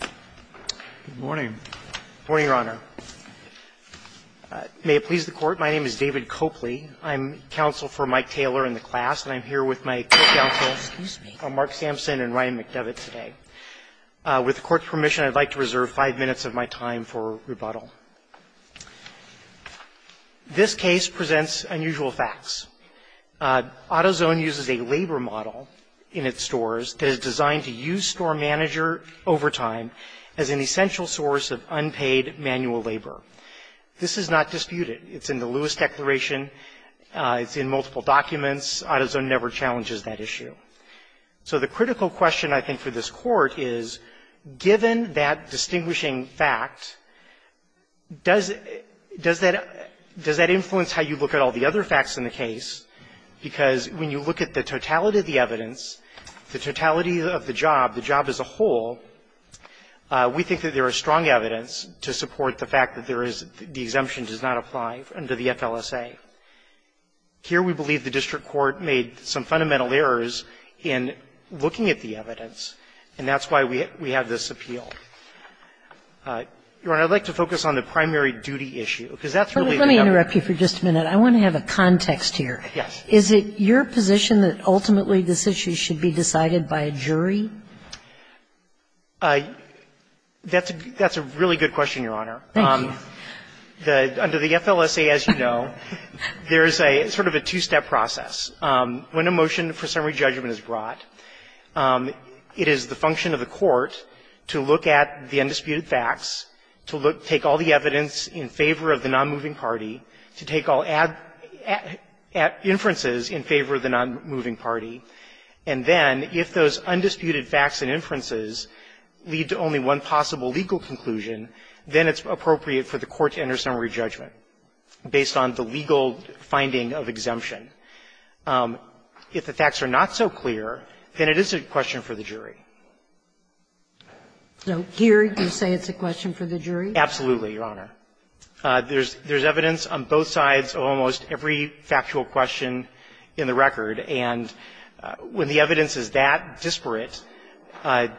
Good morning. Good morning, Your Honor. May it please the Court, my name is David Copley. I'm counsel for Mike Taylor in the class, and I'm here with my court counsels Mark Sampson and Ryan McDevitt today. With the Court's permission, I'd like to reserve five minutes of my time for rebuttal. This case presents unusual facts. AutoZone uses a labor model in its stores that is designed to use store manager overtime as an essential source of unpaid manual labor. This is not disputed. It's in the Lewis Declaration. It's in multiple documents. AutoZone never challenges that issue. So the critical question, I think, for this Court is, given that distinguishing fact, does that influence how you look at all the other facts in the case? Because when you look at the totality of the evidence, the totality of the job, the job as a whole, we think that there is strong evidence to support the fact that there is the exemption does not apply under the FLSA. Here, we believe the district court made some fundamental errors in looking at the evidence, and that's why we have this appeal. Your Honor, I'd like to focus on the primary duty issue, because that's really the other issue. Let me interrupt you for just a minute. I want to have a context here. Yes. Is it your position that ultimately this issue should be decided by a jury? That's a really good question, Your Honor. Thank you. Under the FLSA, as you know, there is a sort of a two-step process. When a motion for summary judgment is brought, it is the function of the court to look at the undisputed facts, to take all the evidence in favor of the nonmoving party, to take all inferences in favor of the nonmoving party, and then if those undisputed facts and inferences lead to only one possible legal conclusion, then it's appropriate for the court to enter summary judgment based on the legal finding of exemption. If the facts are not so clear, then it is a question for the jury. So here, you say it's a question for the jury? Absolutely, Your Honor. There's evidence on both sides of almost every factual question in the record, and when the evidence is that disparate, the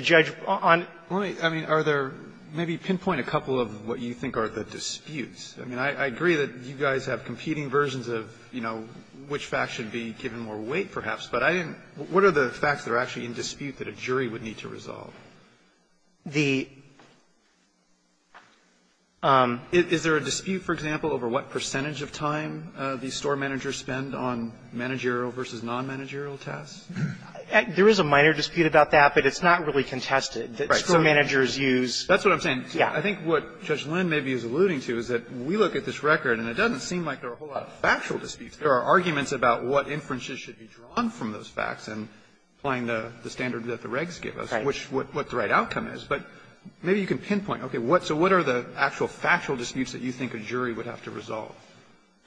judge on the other side of the question is not so sure. Let me, I mean, are there, maybe pinpoint a couple of what you think are the disputes. I mean, I agree that you guys have competing versions of, you know, which fact should be given more weight, perhaps, but I didn't – what are the facts that are actually in dispute that a jury would need to resolve? The – Is there a dispute, for example, over what percentage of time these store managers spend on managerial versus nonmanagerial tasks? There is a minor dispute about that, but it's not really contested. Right. Store managers use – That's what I'm saying. Yeah. I think what Judge Lynn maybe is alluding to is that we look at this record, and it doesn't seem like there are a whole lot of factual disputes. There are arguments about what inferences should be drawn from those facts and applying the standard that the regs give us, which is what the right outcome is. But maybe you can pinpoint, okay, what – so what are the actual factual disputes that you think a jury would have to resolve?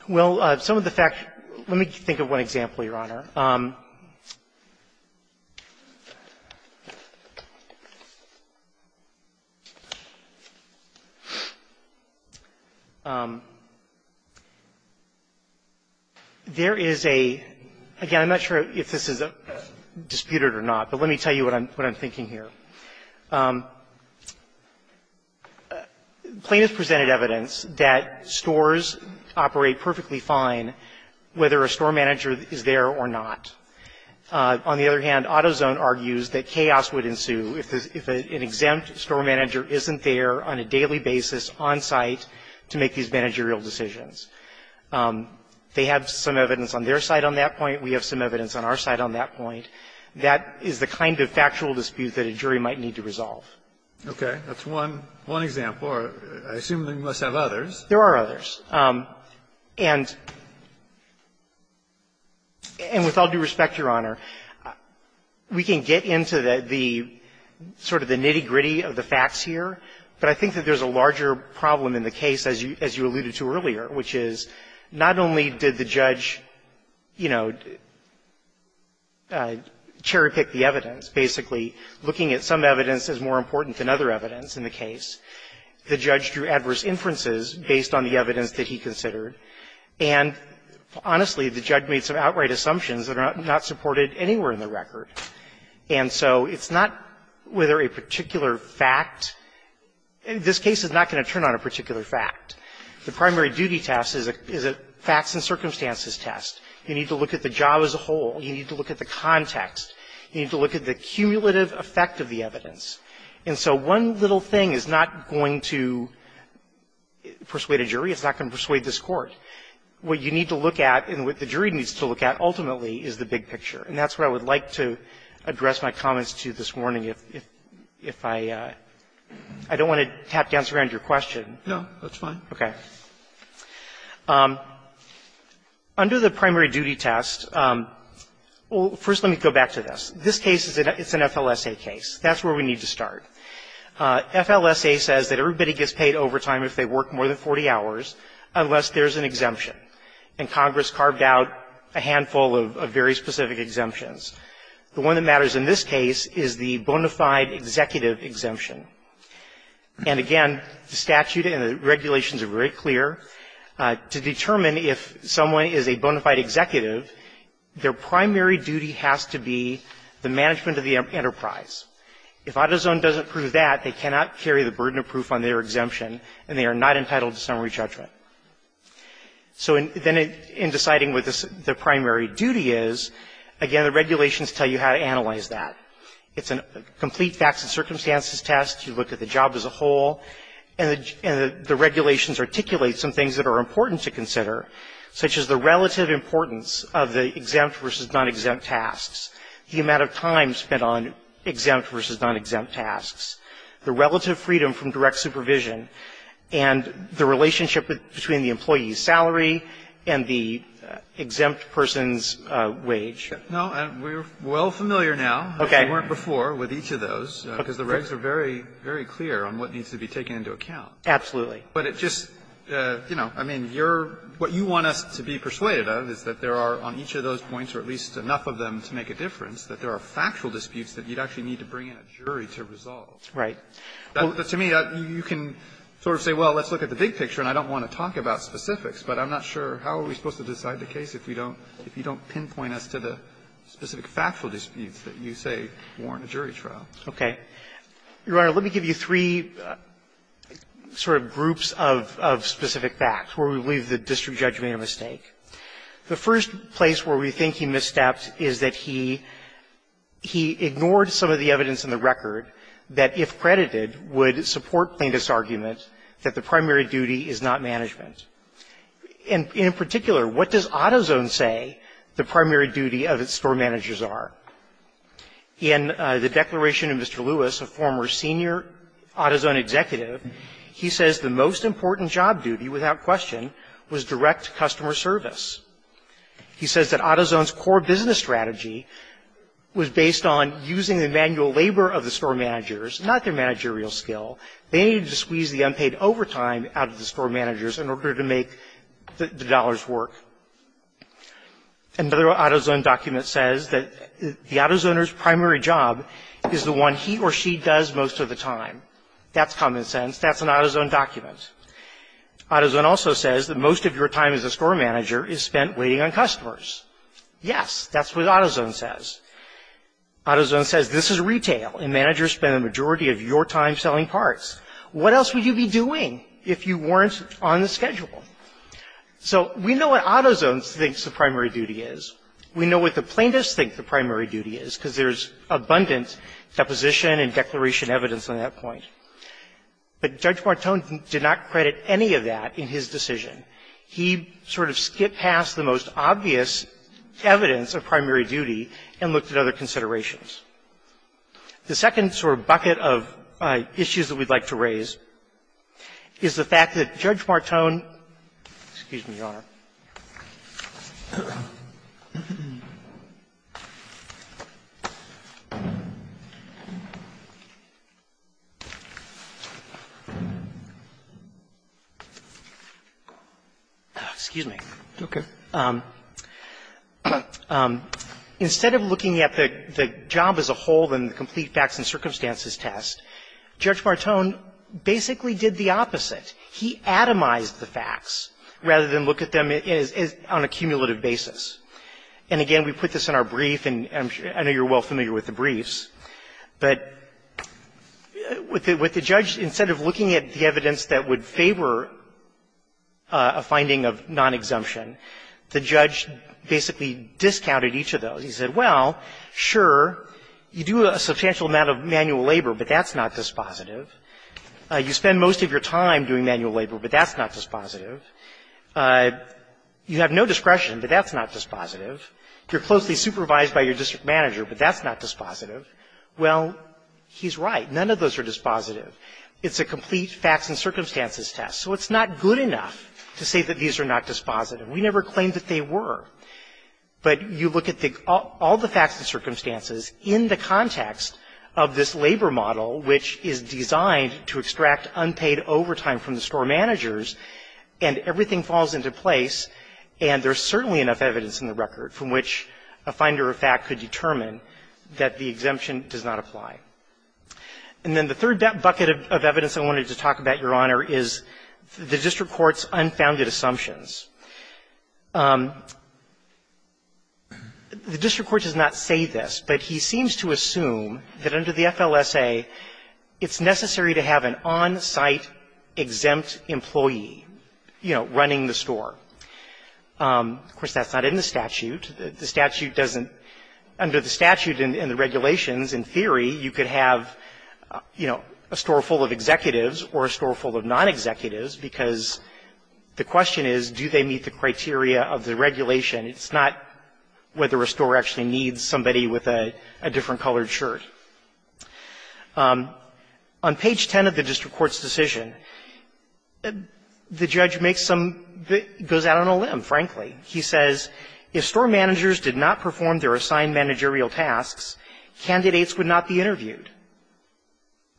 Well, some of the fact – let me think of one example, Your Honor. There is a – again, I'm not sure if this is disputed or not, but let me tell you what I'm thinking here. Plaintiff presented evidence that stores operate perfectly fine whether a store manager is there or not. On the other hand, Autozone argues that chaos would ensue if an exempt store manager isn't there on a daily basis on site to make these managerial decisions. They have some evidence on their side on that point. We have some evidence on our side on that point. That is the kind of factual dispute that a jury might need to resolve. Okay. That's one example. I assume you must have others. There are others. And with all due respect, Your Honor, we can get into the sort of the nitty-gritty of the facts here, but I think that there's a larger problem in the case, as you alluded to earlier, which is not only did the judge, you know, cherry-pick the evidence. Basically, looking at some evidence is more important than other evidence in the case. The judge drew adverse inferences based on the evidence that he considered. And honestly, the judge made some outright assumptions that are not supported anywhere in the record. And so it's not whether a particular fact – this case is not going to turn on a particular fact. The primary duty test is a facts and circumstances test. You need to look at the job as a whole. You need to look at the context. You need to look at the cumulative effect of the evidence. And so one little thing is not going to persuade a jury. It's not going to persuade this Court. What you need to look at and what the jury needs to look at ultimately is the big picture. And that's what I would like to address my comments to this morning. If I – I don't want to tap dance around your question. No, that's fine. Okay. Under the primary duty test – well, first let me go back to this. This case is an – it's an FLSA case. That's where we need to start. FLSA says that everybody gets paid overtime if they work more than 40 hours unless there's an exemption. And Congress carved out a handful of very specific exemptions. The one that matters in this case is the bona fide executive exemption. And again, the statute and the regulations are very clear. To determine if someone is a bona fide executive, their primary duty has to be the management of the enterprise. If AutoZone doesn't approve that, they cannot carry the burden of proof on their exemption and they are not entitled to summary judgment. So then in deciding what the primary duty is, again, the regulations tell you how to analyze that. It's a complete facts and circumstances test. You look at the job as a whole. And the regulations articulate some things that are important to consider, such as the relative importance of the exempt versus non-exempt tasks, the amount of time spent on exempt versus non-exempt tasks, the relative freedom from direct supervision, and the relationship between the employee's salary and the exempt person's wage. No, we're well familiar now. Okay. We weren't before with each of those, because the regs are very, very clear on what needs to be taken into account. Absolutely. But it just, you know, I mean, you're what you want us to be persuaded of is that there are on each of those points, or at least enough of them to make a difference, that there are factual disputes that you'd actually need to bring in a jury to resolve. Right. To me, you can sort of say, well, let's look at the big picture, and I don't want to talk about specifics, but I'm not sure how are we supposed to decide the case if you don't pinpoint us to the specific factual disputes that you say warrant a jury trial. Okay. Your Honor, let me give you three sort of groups of specific facts where we believe the district judge made a mistake. The first place where we think he misstepped is that he ignored some of the evidence in the record that if credited would support plaintiff's argument that the primary duty is not management. And in particular, what does AutoZone say the primary duty of its store managers are? In the declaration of Mr. Lewis, a former senior AutoZone executive, he says the most important job duty, without question, was direct customer service. He says that AutoZone's core business strategy was based on using the manual labor of the store managers, not their managerial skill. They needed to squeeze the unpaid overtime out of the store managers in order to make the dollars work. Another AutoZone document says that the AutoZoner's primary job is the one he or she does most of the time. That's common sense. That's an AutoZone document. AutoZone also says that most of your time as a store manager is spent waiting on customers. Yes, that's what AutoZone says. AutoZone says this is retail, and managers spend the majority of your time selling parts. What else would you be doing if you weren't on the schedule? So we know what AutoZone thinks the primary duty is. We know what the plaintiffs think the primary duty is, because there's abundant deposition and declaration evidence on that point. But Judge Martone did not credit any of that in his decision. He sort of skipped past the most obvious evidence of primary duty and looked at other considerations. The second sort of bucket of issues that we'd like to raise is the fact that Judge Martone – excuse me, Your Honor. Excuse me. Roberts. Instead of looking at the job as a whole and the complete facts and circumstances test, Judge Martone basically did the opposite. He atomized the facts rather than look at them on a cumulative basis. And again, we put this in our brief, and I know you're well familiar with the briefs. But with the judge, instead of looking at the evidence that would favor a finding of non-exemption, the judge basically discounted each of those. He said, well, sure, you do a substantial amount of manual labor, but that's not dispositive. You spend most of your time doing manual labor, but that's not dispositive. You have no discretion, but that's not dispositive. You're closely supervised by your district manager, but that's not dispositive. Well, he's right. None of those are dispositive. It's a complete facts and circumstances test. So it's not good enough to say that these are not dispositive. We never claimed that they were. But you look at all the facts and circumstances in the context of this labor model, which is designed to extract unpaid overtime from the store managers, and everything falls into place, and there's certainly enough evidence in the record from which a finder of fact could determine that the exemption does not apply. And then the third bucket of evidence I wanted to talk about, Your Honor, is the district court's unfounded assumptions. The district court does not say this, but he seems to assume that under the FLSA, it's necessary to have an on-site exempt employee, you know, running the store. Of course, that's not in the statute. The statute doesn't – under the statute and the regulations, in theory, you could have, you know, a store full of executives or a store full of non-executives, because the question is, do they meet the criteria of the regulation? It's not whether a store actually needs somebody with a different colored shirt. On page 10 of the district court's decision, the judge makes some – goes out on a limb, frankly. He says, if store managers did not perform their assigned managerial tasks, candidates would not be interviewed.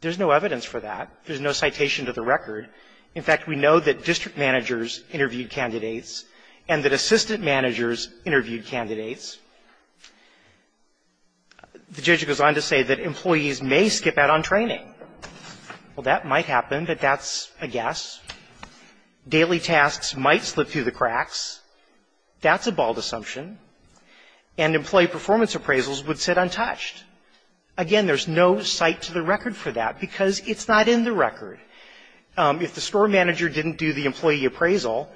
There's no evidence for that. There's no citation to the record. In fact, we know that district managers interviewed candidates and that assistant managers interviewed candidates. The judge goes on to say that employees may skip out on training. Well, that might happen, but that's a guess. Daily tasks might slip through the cracks. That's a bald assumption. And employee performance appraisals would sit untouched. Again, there's no cite to the record for that, because it's not in the record. If the store manager didn't do the employee appraisal,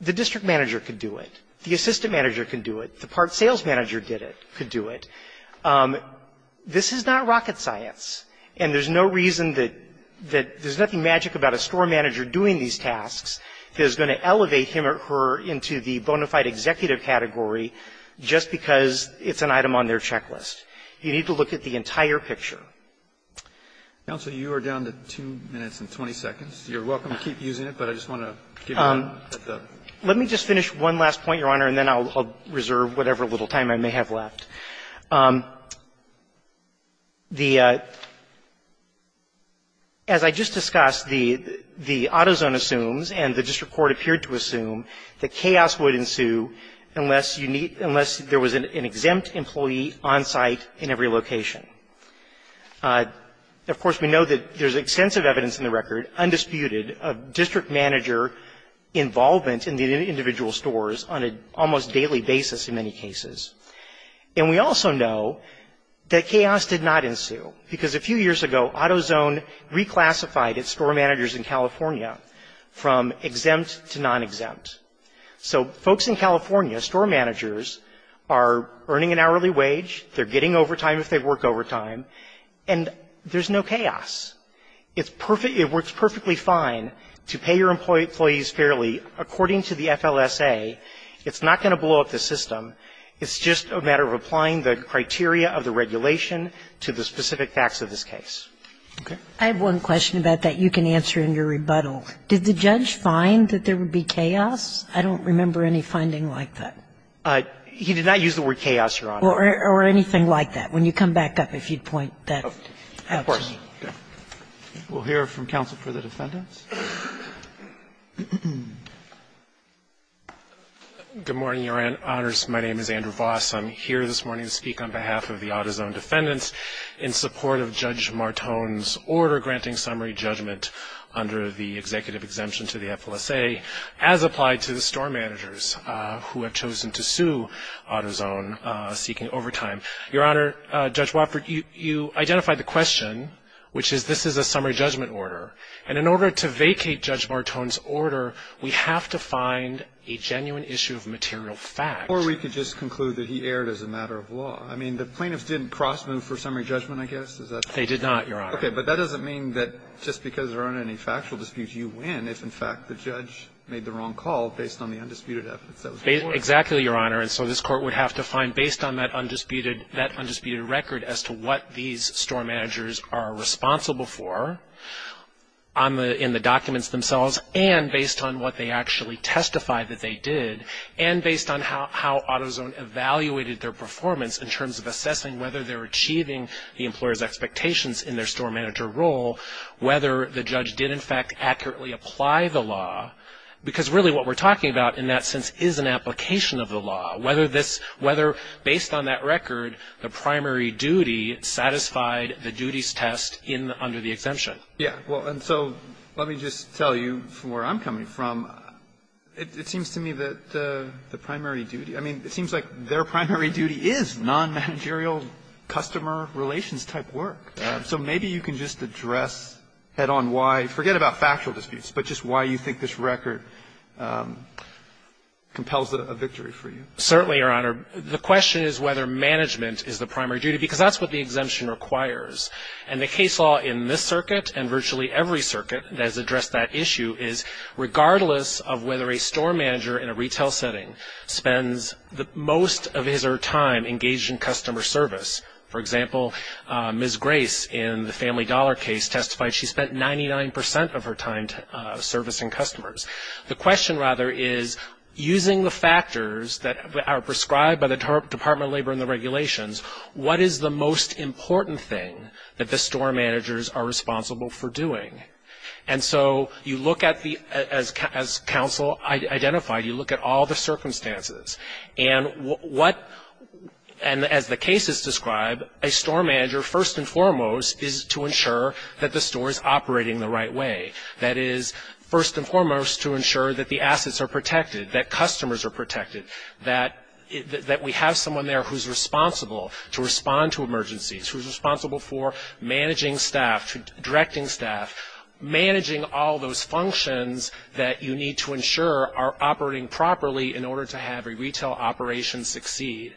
the district manager could do it. The assistant manager could do it. The part sales manager did it – could do it. This is not rocket science, and there's no reason that – that there's nothing magic about a store manager doing these tasks that is going to elevate him or her into the bona fide executive category just because it's an item on their checklist. You need to look at the entire picture. Alito, you are down to 2 minutes and 20 seconds. You're welcome to keep using it, but I just want to give you a little bit of a break. Let me just finish one last point, Your Honor, and then I'll reserve whatever little time I may have left. The – as I just discussed, the – the AutoZone assumes, and the district court appeared to assume, that chaos would ensue unless you need – unless there was an exempt employee on site in every location. Of course, we know that there's extensive evidence in the record, undisputed, of district manager involvement in the individual stores on an almost daily basis in many cases. And we also know that chaos did not ensue because a few years ago, AutoZone reclassified its store managers in California from exempt to non-exempt. So folks in California, store managers, are earning an hourly wage, they're getting overtime if they work overtime, and there's no chaos. It's perfect – it works perfectly fine to pay your employees fairly. According to the FLSA, it's not going to blow up the system. It's just a matter of applying the criteria of the regulation to the specific facts of this case. Okay? I have one question about that you can answer in your rebuttal. Did the judge find that there would be chaos? I don't remember any finding like that. He did not use the word chaos, Your Honor. Or anything like that. When you come back up, if you'd point that out to me. Of course. We'll hear from counsel for the defendants. Good morning, Your Honors. My name is Andrew Voss. I'm here this morning to speak on behalf of the AutoZone defendants in support of Judge Martone's order granting summary judgment under the executive exemption to the FLSA as applied to the store managers who have chosen to sue AutoZone seeking overtime. Your Honor, Judge Wofford, you identified the question, which is this is a summary judgment order. And in order to vacate Judge Martone's order, we have to find a genuine issue of material fact. Or we could just conclude that he erred as a matter of law. I mean, the plaintiffs didn't cross-move for summary judgment, I guess, is that? They did not, Your Honor. Okay, but that doesn't mean that just because there aren't any factual disputes, you win if, in fact, the judge made the wrong call based on the undisputed evidence that was brought. Exactly, Your Honor. And so this court would have to find, based on that undisputed record as to what these store managers are responsible for in the documents themselves, and based on what they actually testify that they did, and based on how AutoZone evaluated their performance in terms of assessing whether they're achieving the employer's expectations in their store manager role, whether the judge did, in fact, accurately apply the law. Because really what we're talking about in that sense is an application of the law. Whether this – whether, based on that record, the primary duty satisfied the duties test in – under the exemption. Yeah. Well, and so let me just tell you, from where I'm coming from, it seems to me that the primary duty – I mean, it seems like their primary duty is non-managerial customer relations-type work. So maybe you can just address head-on why – forget about factual disputes, but just why you think this record compels a victory for you. Certainly, Your Honor, the question is whether management is the primary duty, because that's what the exemption requires. And the case law in this circuit, and virtually every circuit that has addressed that issue, is regardless of whether a store manager in a retail setting spends the most of his or her time engaged in customer service – for example, Ms. Grace in the Family Dollar case testified she spent 99 percent of her time servicing customers. The question, rather, is using the factors that are prescribed by the Department of Labor and the regulations, what is the most important thing that the store managers are responsible for doing? And so you look at the – as counsel identified, you look at all the circumstances. And what – and as the cases describe, a store manager, first and foremost, is to ensure that the store is operating the right way. That is, first and foremost, to ensure that the assets are protected, that customers are protected, that we have someone there who's responsible to respond to emergencies, who's responsible for managing staff, directing staff, managing all those functions that you need to ensure are operating properly in order to have a retail operation succeed.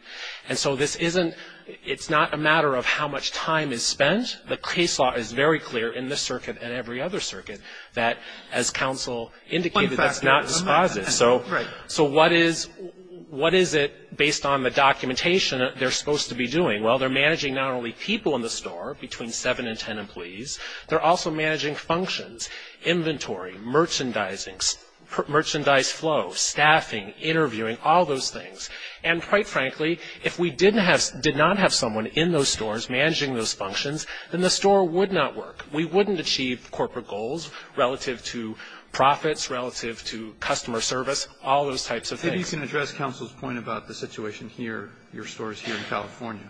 And so this isn't – it's not a matter of how much time is spent. The case law is very clear in this circuit and every other circuit that, as counsel indicated, that's not dispositive. So what is – what is it, based on the documentation, they're supposed to be doing? Well, they're managing not only people in the store, between 7 and 10 employees, they're also managing functions, inventory, merchandising, merchandise flow, staffing, interviewing, all those things. And quite frankly, if we didn't have – did not have someone in those stores managing those functions, then the store would not work. We wouldn't achieve corporate goals relative to profits, relative to customer service, all those types of things. Maybe you can address counsel's point about the situation here, your stores here in California.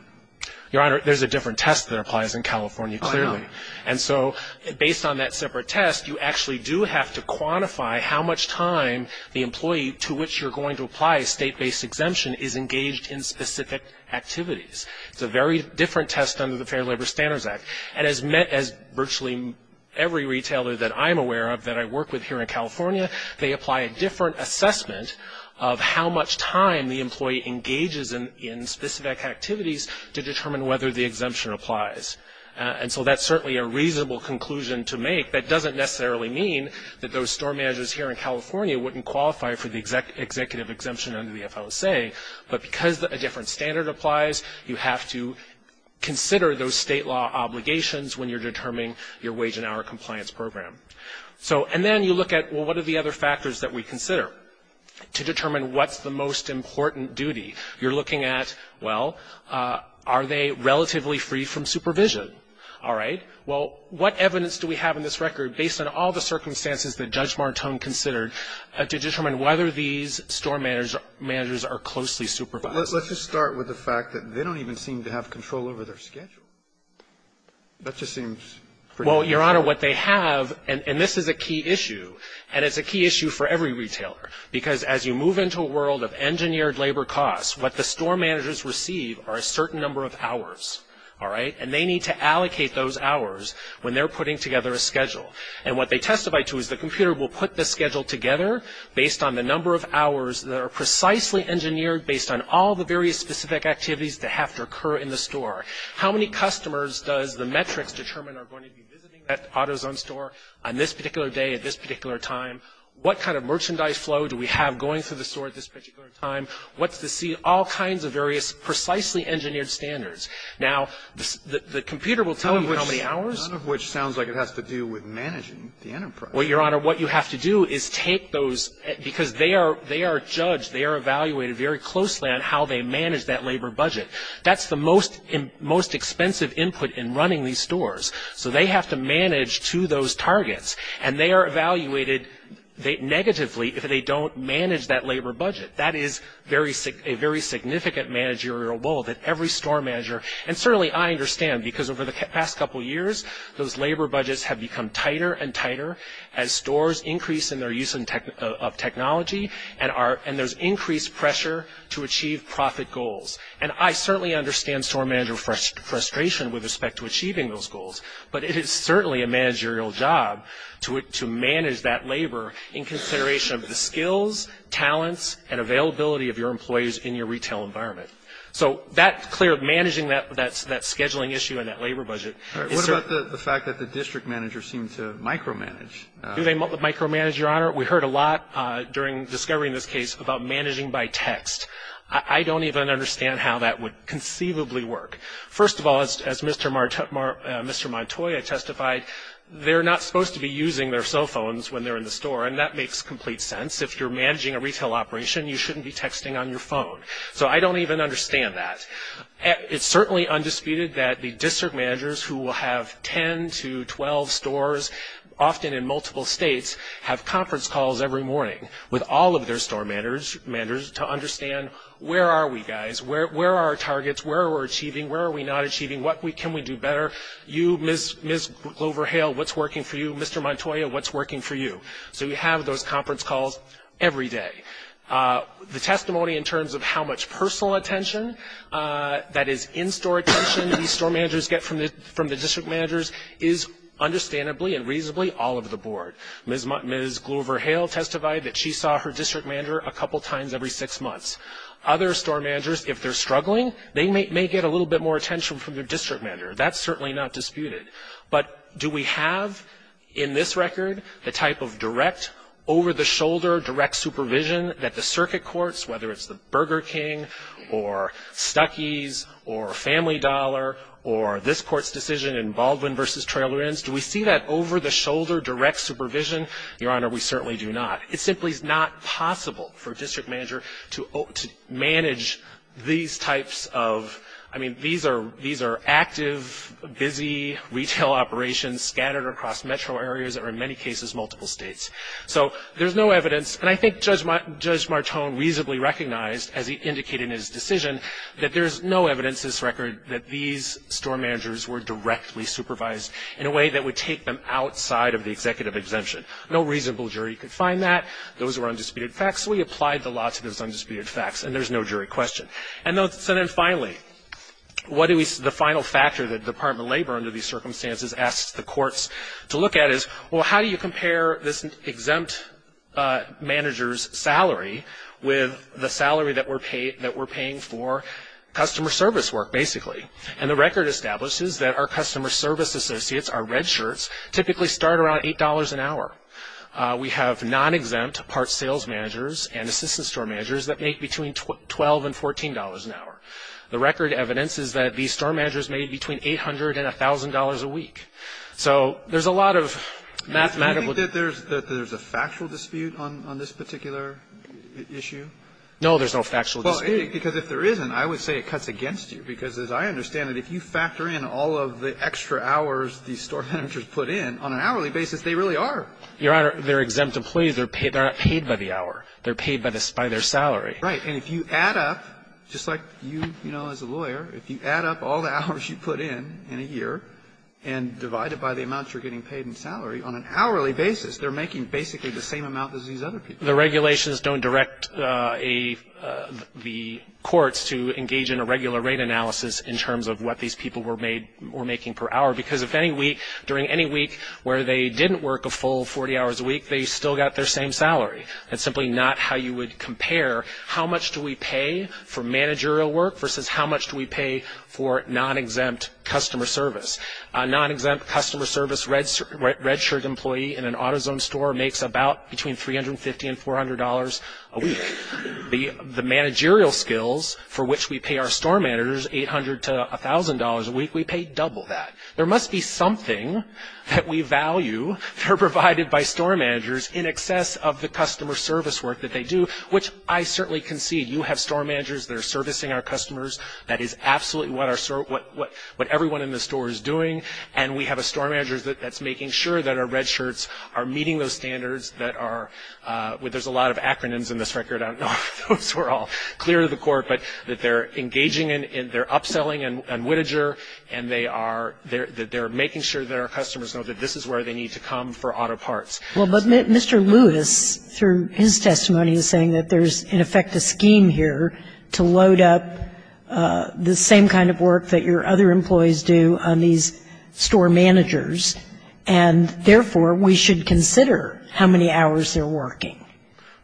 Your Honor, there's a different test that applies in California, clearly. Oh, I know. And so based on that separate test, you actually do have to quantify how much time the employee to which you're going to apply a state-based exemption is engaged in specific activities. It's a very different test under the Fair Labor Standards Act. And as met – as virtually every retailer that I'm aware of, that I work with here in California, they apply a different assessment of how much time the employee engages in specific activities to determine whether the exemption applies. And so that's certainly a reasonable conclusion to make. That doesn't necessarily mean that those store managers here in California wouldn't qualify for the executive exemption under the FLSA. But because a different standard applies, you have to consider those state law obligations when you're determining your wage and hour compliance program. So – and then you look at, well, what are the other factors that we consider to determine what's the most important duty? You're looking at, well, are they relatively free from supervision? All right. Well, what evidence do we have in this record based on all the circumstances that Judge Martone considered to determine whether these store managers are closely supervised? But let's just start with the fact that they don't even seem to have control over their schedule. That just seems pretty – Well, Your Honor, what they have – and this is a key issue. And it's a key issue for every retailer. Because as you move into a world of engineered labor costs, what the store managers receive are a certain number of hours. All right? And they need to allocate those hours when they're putting together a schedule. And what they testify to is the computer will put the schedule together based on the number of hours that are precisely engineered based on all the various specific activities that have to occur in the store. How many customers does the metrics determine are going to be visiting that AutoZone store on this particular day at this particular time? What kind of merchandise flow do we have going through the store at this particular time? What's the – see all kinds of various precisely engineered standards. Now, the computer will tell you how many hours. None of which sounds like it has to do with managing the enterprise. Well, Your Honor, what you have to do is take those – because they are judged, they are evaluated very closely on how they manage that labor budget. That's the most expensive input in running these stores. So they have to manage to those targets. And they are evaluated negatively if they don't manage that labor budget. That is a very significant managerial role that every store manager – and certainly I understand, because over the past couple years, those labor budgets have become tighter and tighter as stores increase in their use of technology and there's increased pressure to achieve profit goals. And I certainly understand store manager frustration with respect to achieving those goals, but it is certainly a managerial job to manage that labor in consideration of the skills, talents, and availability of your employees in your retail environment. So that clear – managing that scheduling issue and that labor budget is – What about the fact that the district managers seem to micromanage? Do they micromanage, Your Honor? We heard a lot during discovery in this case about managing by text. I don't even understand how that would conceivably work. First of all, as Mr. Montoya testified, they're not supposed to be using their cell phones when they're in the store, and that makes complete sense. If you're managing a retail operation, you shouldn't be texting on your phone. So I don't even understand that. It's certainly undisputed that the district managers who will have 10 to 12 stores, often in multiple states, have conference calls every morning with all of their store managers to understand where are we, guys? Where are our targets? Where are we achieving? Where are we not achieving? What can we do better? You, Ms. Glover-Hale, what's working for you? Mr. Montoya, what's working for you? So you have those conference calls every day. The testimony in terms of how much personal attention, that is, in-store attention these store managers get from the district managers, is understandably and reasonably all of the board. Ms. Glover-Hale testified that she saw her district manager a couple times every six months. Other store managers, if they're struggling, they may get a little bit more attention from their district manager. That's certainly not disputed. But do we have, in this record, a type of direct, over-the-shoulder direct supervision that the circuit courts, whether it's the Burger King or Stuckey's or Family Dollar or this court's decision in Baldwin v. Trailer Inns, do we see that over-the-shoulder direct supervision? Your Honor, we certainly do not. It simply is not possible for a district manager to manage these types of, I mean, these are active, busy retail operations scattered across metro areas or, in many cases, multiple states. So there's no evidence. And I think Judge Martone reasonably recognized, as he indicated in his decision, that there's no evidence in this record that these store managers were directly supervised in a way that would take them outside of the executive exemption. No reasonable jury could find that. Those were undisputed facts. We applied the law to those undisputed facts, and there's no jury question. And so then, finally, what do we, the final factor that the Department of Labor, under these circumstances, asks the courts to look at is, well, how do you compare this exempt manager's salary with the salary that we're paying for customer service work, basically? And the record establishes that our customer service associates, our red shirts, typically start around $8 an hour. We have non-exempt part sales managers and assistant store managers that make between $12 and $14 an hour. The record evidences that these store managers made between $800 and $1,000 a week. So there's a lot of mathematical... Do you think that there's a factual dispute on this particular issue? No, there's no factual dispute. Well, because if there isn't, I would say it cuts against you. Because as I understand it, if you factor in all of the extra hours these store managers put in, on an hourly basis, they really are. Your Honor, they're exempt employees. They're not paid by the hour. They're paid by their salary. Right. And if you add up, just like you, you know, as a lawyer, if you add up all the hours you put in, in a year, and divide it by the amount you're getting paid in salary, on an hourly basis, they're making basically the same amount as these other people. The regulations don't direct the courts to engage in a regular rate analysis in terms of what these people were making per hour. Because if any week, during any week where they didn't work a full 40 hours a week, they still got their same salary. That's simply not how you would compare how much do we pay for managerial work versus how much do we pay for non-exempt customer service. A non-exempt customer service registered employee in an AutoZone store makes about between $350 and $400 a week. The managerial skills for which we pay our store managers $800 to $1,000 a week, we pay double that. There must be something that we value that are provided by store managers in excess of the customer service work that they do, which I certainly concede. You have store managers that are servicing our customers. That is absolutely what our store, what everyone in the store is doing. And we have a store manager that's making sure that our red shirts are meeting those standards that are, well, there's a lot of acronyms in this record. I don't know if those were all clear to the court. But that they're engaging in, they're upselling on Whittager. And they are, that they're making sure that our customers know that this is where they need to come for auto parts. Well, but Mr. Lewis, through his testimony, is saying that there's, in effect, a scheme here to load up the same kind of work that your other employees do on these store managers. And therefore, we should consider how many hours they're working.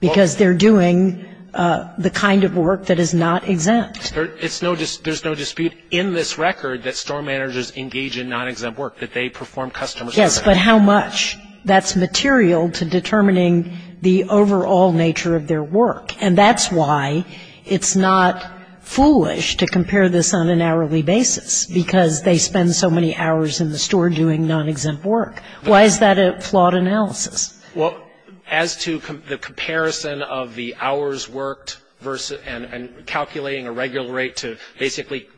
Because they're doing the kind of work that is not exempt. There's no dispute in this record that store managers engage in non-exempt work, that they perform customer service. Yes, but how much? That's material to determining the overall nature of their work. And that's why it's not foolish to compare this on an hourly basis, because they spend so many hours in the store doing non-exempt work. Why is that a flawed analysis? Well, as to the comparison of the hours worked versus and calculating a regular rate to basically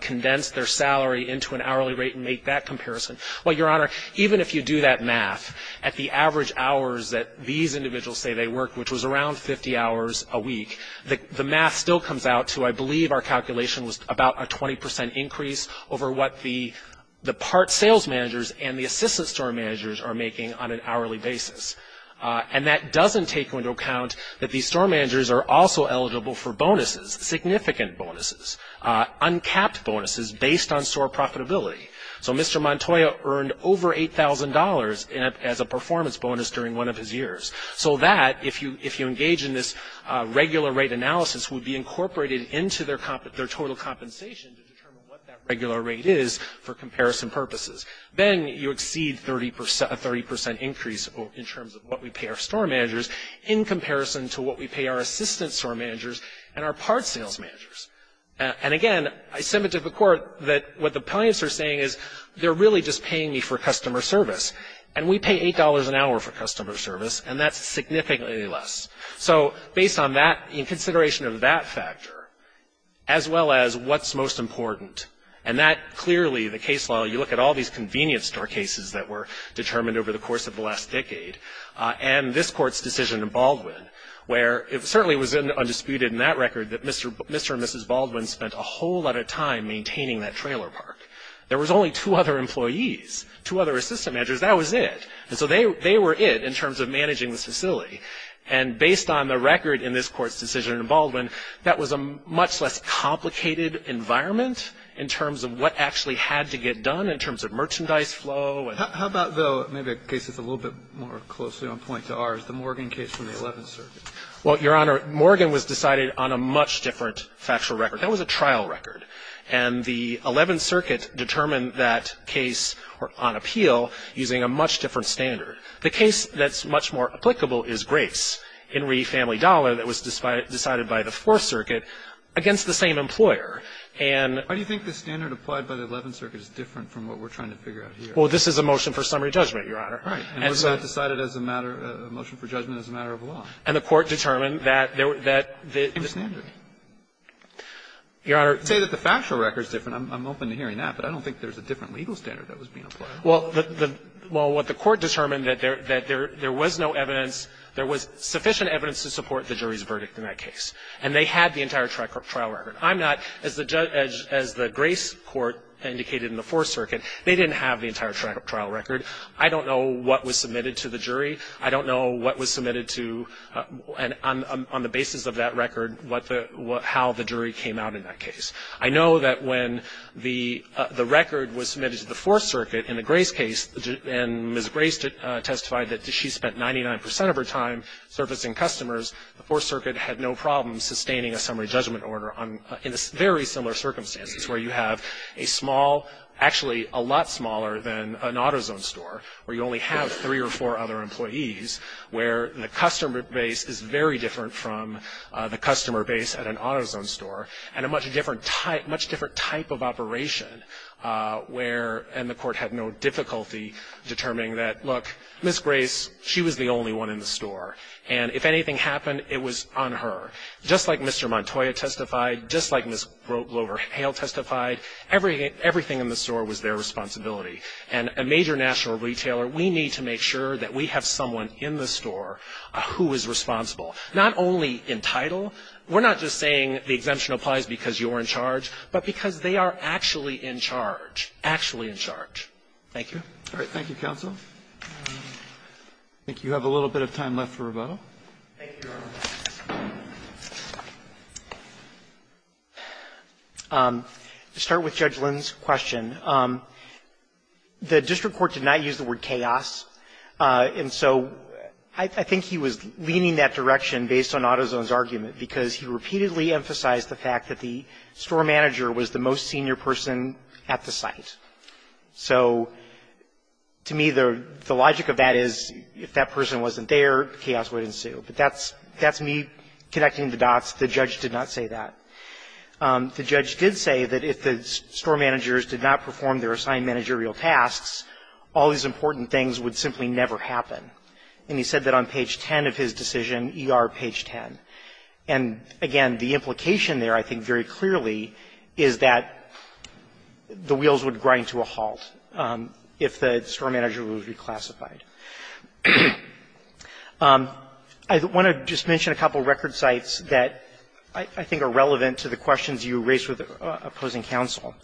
condense their salary into an hourly rate and make that comparison, well, Your Honor, even if you do that math, at the average hours that these individuals say they work, which was around 50 hours a week, the math still comes out to, I believe, our calculation was about a 20% increase over what the part sales managers and the assistant store managers are making on an hourly basis. And that doesn't take into account that these store managers are also eligible for bonuses, significant bonuses, uncapped bonuses based on store profitability. So Mr. Montoya earned over $8,000 as a performance bonus during one of his years. So that, if you engage in this regular rate analysis, would be incorporated into their total compensation to determine what that regular rate is for comparison purposes. Then you exceed a 30% increase in terms of what we pay our store managers in comparison to what we pay our assistant store managers and our part sales managers. And again, I submit to the Court that what the plaintiffs are saying is they're really just paying me for customer service. And we pay $8 an hour for customer service, and that's significantly less. So based on that, in consideration of that factor, as well as what's most important, and that clearly, the case law, you look at all these convenience store cases that were determined over the course of the last decade, and this Court's decision in Baldwin, where it certainly was undisputed in that record that Mr. and Mrs. Baldwin spent a whole lot of time maintaining that trailer park. There was only two other employees, two other assistant managers. That was it. And so they were it in terms of managing this facility. And based on the record in this Court's decision in Baldwin, that was a much less complicated environment in terms of what actually had to get done, in terms of merchandise flow. And how about, though, maybe a case that's a little bit more closely on point to ours, the Morgan case from the 11th Circuit? Well, Your Honor, Morgan was decided on a much different factual record. That was a trial record. And the 11th Circuit determined that case on appeal using a much different standard. The case that's much more applicable is Grace, Henry Family Dollar, that was decided by the 4th Circuit against the same employer. And — Why do you think the standard applied by the 11th Circuit is different from what we're trying to figure out here? Well, this is a motion for summary judgment, Your Honor. Right. And was that decided as a matter — a motion for judgment as a matter of law? And the Court determined that — A standard. Your Honor — I would say that the factual record is different. I'm open to hearing that. But I don't think there's a different legal standard that was being applied. Well, the — well, what the Court determined, that there — that there was no evidence — there was sufficient evidence to support the jury's verdict in that case. And they had the entire trial record. I'm not — as the — as the Grace court indicated in the 4th Circuit, they didn't have the entire trial record. I don't know what was submitted to the jury. I don't know what was submitted to — and on the basis of that record, what the — how the jury came out in that case. I know that when the — the record was submitted to the 4th Circuit in the Grace case, and Ms. Grace testified that she spent 99 percent of her time servicing customers, the 4th Circuit had no problem sustaining a summary judgment order on — in very similar circumstances, where you have a small — actually, a lot smaller than an AutoZone store, where you only have three or four other employees, where the customer base is very different from the customer base at an AutoZone store, and a much different type — much different type of operation, where — and the Court had no difficulty determining that, look, Ms. Grace, she was the only one in the store. And if anything happened, it was on her. Just like Mr. Montoya testified, just like Ms. Glover-Hale testified, every — everything in the store was their responsibility. And a major national retailer, we need to make sure that we have someone in the store who is responsible. Not only entitled, we're not just saying the exemption applies because you're in charge, but because they are actually in charge, actually in charge. Thank you. Roberts. All right. Thank you, counsel. I think you have a little bit of time left for rebuttal. Thank you, Your Honor. To start with Judge Lynn's question, the district court did not use the word chaos. And so I think he was leaning that direction based on AutoZone's argument, because he repeatedly emphasized the fact that the store manager was the most senior person at the site. So to me, the logic of that is if that person wasn't there, chaos would ensue. But that's — that's me connecting the dots. The judge did not say that. The judge did say that if the store managers did not perform their assigned managerial tasks, all these important things would simply never happen. And he said that on page 10 of his decision, ER page 10. And again, the implication there, I think very clearly, is that the wheels would grind to a halt if the store manager was reclassified. I want to just mention a couple of record sites that I think are relevant to the questions you raised with opposing counsel.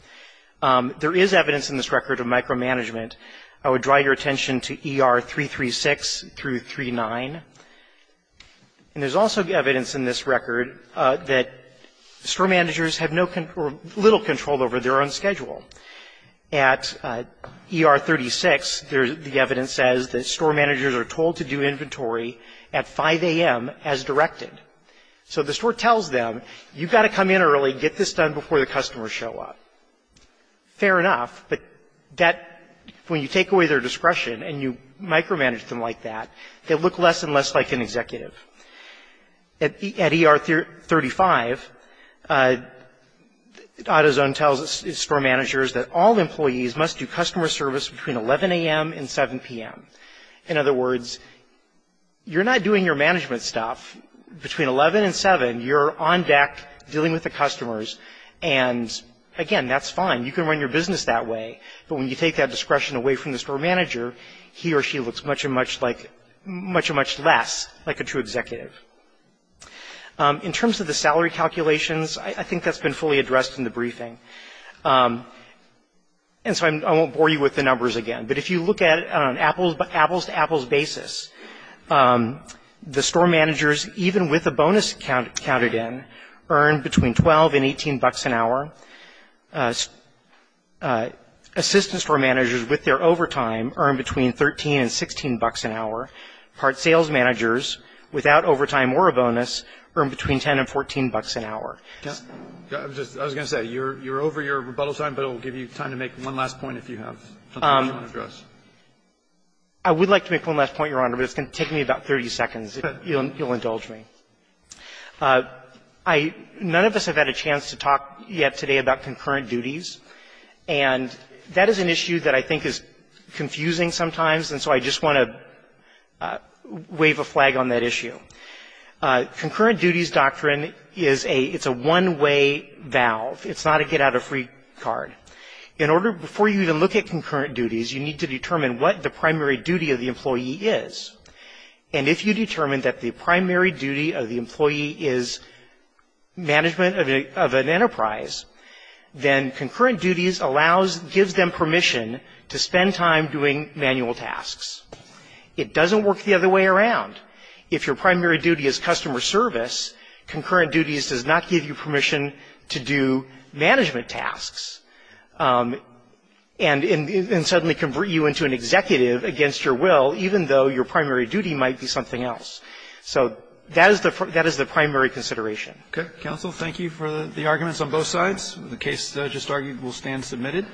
There is evidence in this record of micromanagement. I would draw your attention to ER 336 through 39. And there's also evidence in this record that store managers have no control — little control over their own schedule. At ER 36, the evidence says that store managers are told to do inventory at 5 a.m. as directed. So the store tells them, you've got to come in early, get this done before the customers show up. Fair enough, but that — when you take away their discretion and you micromanage them like that, they look less and less like an executive. At ER 35, AutoZone tells store managers that all employees must do customer service between 11 a.m. and 7 p.m. In other words, you're not doing your management stuff. Between 11 and 7, you're on deck dealing with the customers, and again, that's fine. You can run your business that way, but when you take that discretion away from the store manager, he or she looks much and much like — much and much less like a true executive. In terms of the salary calculations, I think that's been fully addressed in the briefing. And so I won't bore you with the numbers again, but if you look at it on an apples-to-apples basis, the store managers, even with a bonus counted in, earn between $12 and $18 an hour. Assistant store managers, with their overtime, earn between $13 and $16 an hour. Part-sales managers, without overtime or a bonus, earn between $10 and $14 an hour. I was going to say, you're over your rebuttal time, but it will give you time to make one last point if you have something else you want to address. I would like to make one last point, Your Honor, but it's going to take me about 30 seconds. If you'll indulge me. I — none of us have had a chance to talk yet today about concurrent duties, and that is an issue that I think is confusing sometimes, and so I just want to wave a flag on that issue. Concurrent duties doctrine is a — it's a one-way valve. It's not a get-out-of-free card. In order — before you even look at concurrent duties, you need to determine what the primary duty of the employee is, and if you determine that the primary duty of the employee is management of an enterprise, then concurrent duties allows — gives them permission to spend time doing manual tasks. It doesn't work the other way around. If your primary duty is customer service, concurrent duties does not give you permission to do management tasks and — and suddenly can bring you into an executive against your will, even though your primary duty might be something else. So that is the — that is the primary consideration. Okay. Counsel, thank you for the arguments on both sides. The case just argued will stand submitted.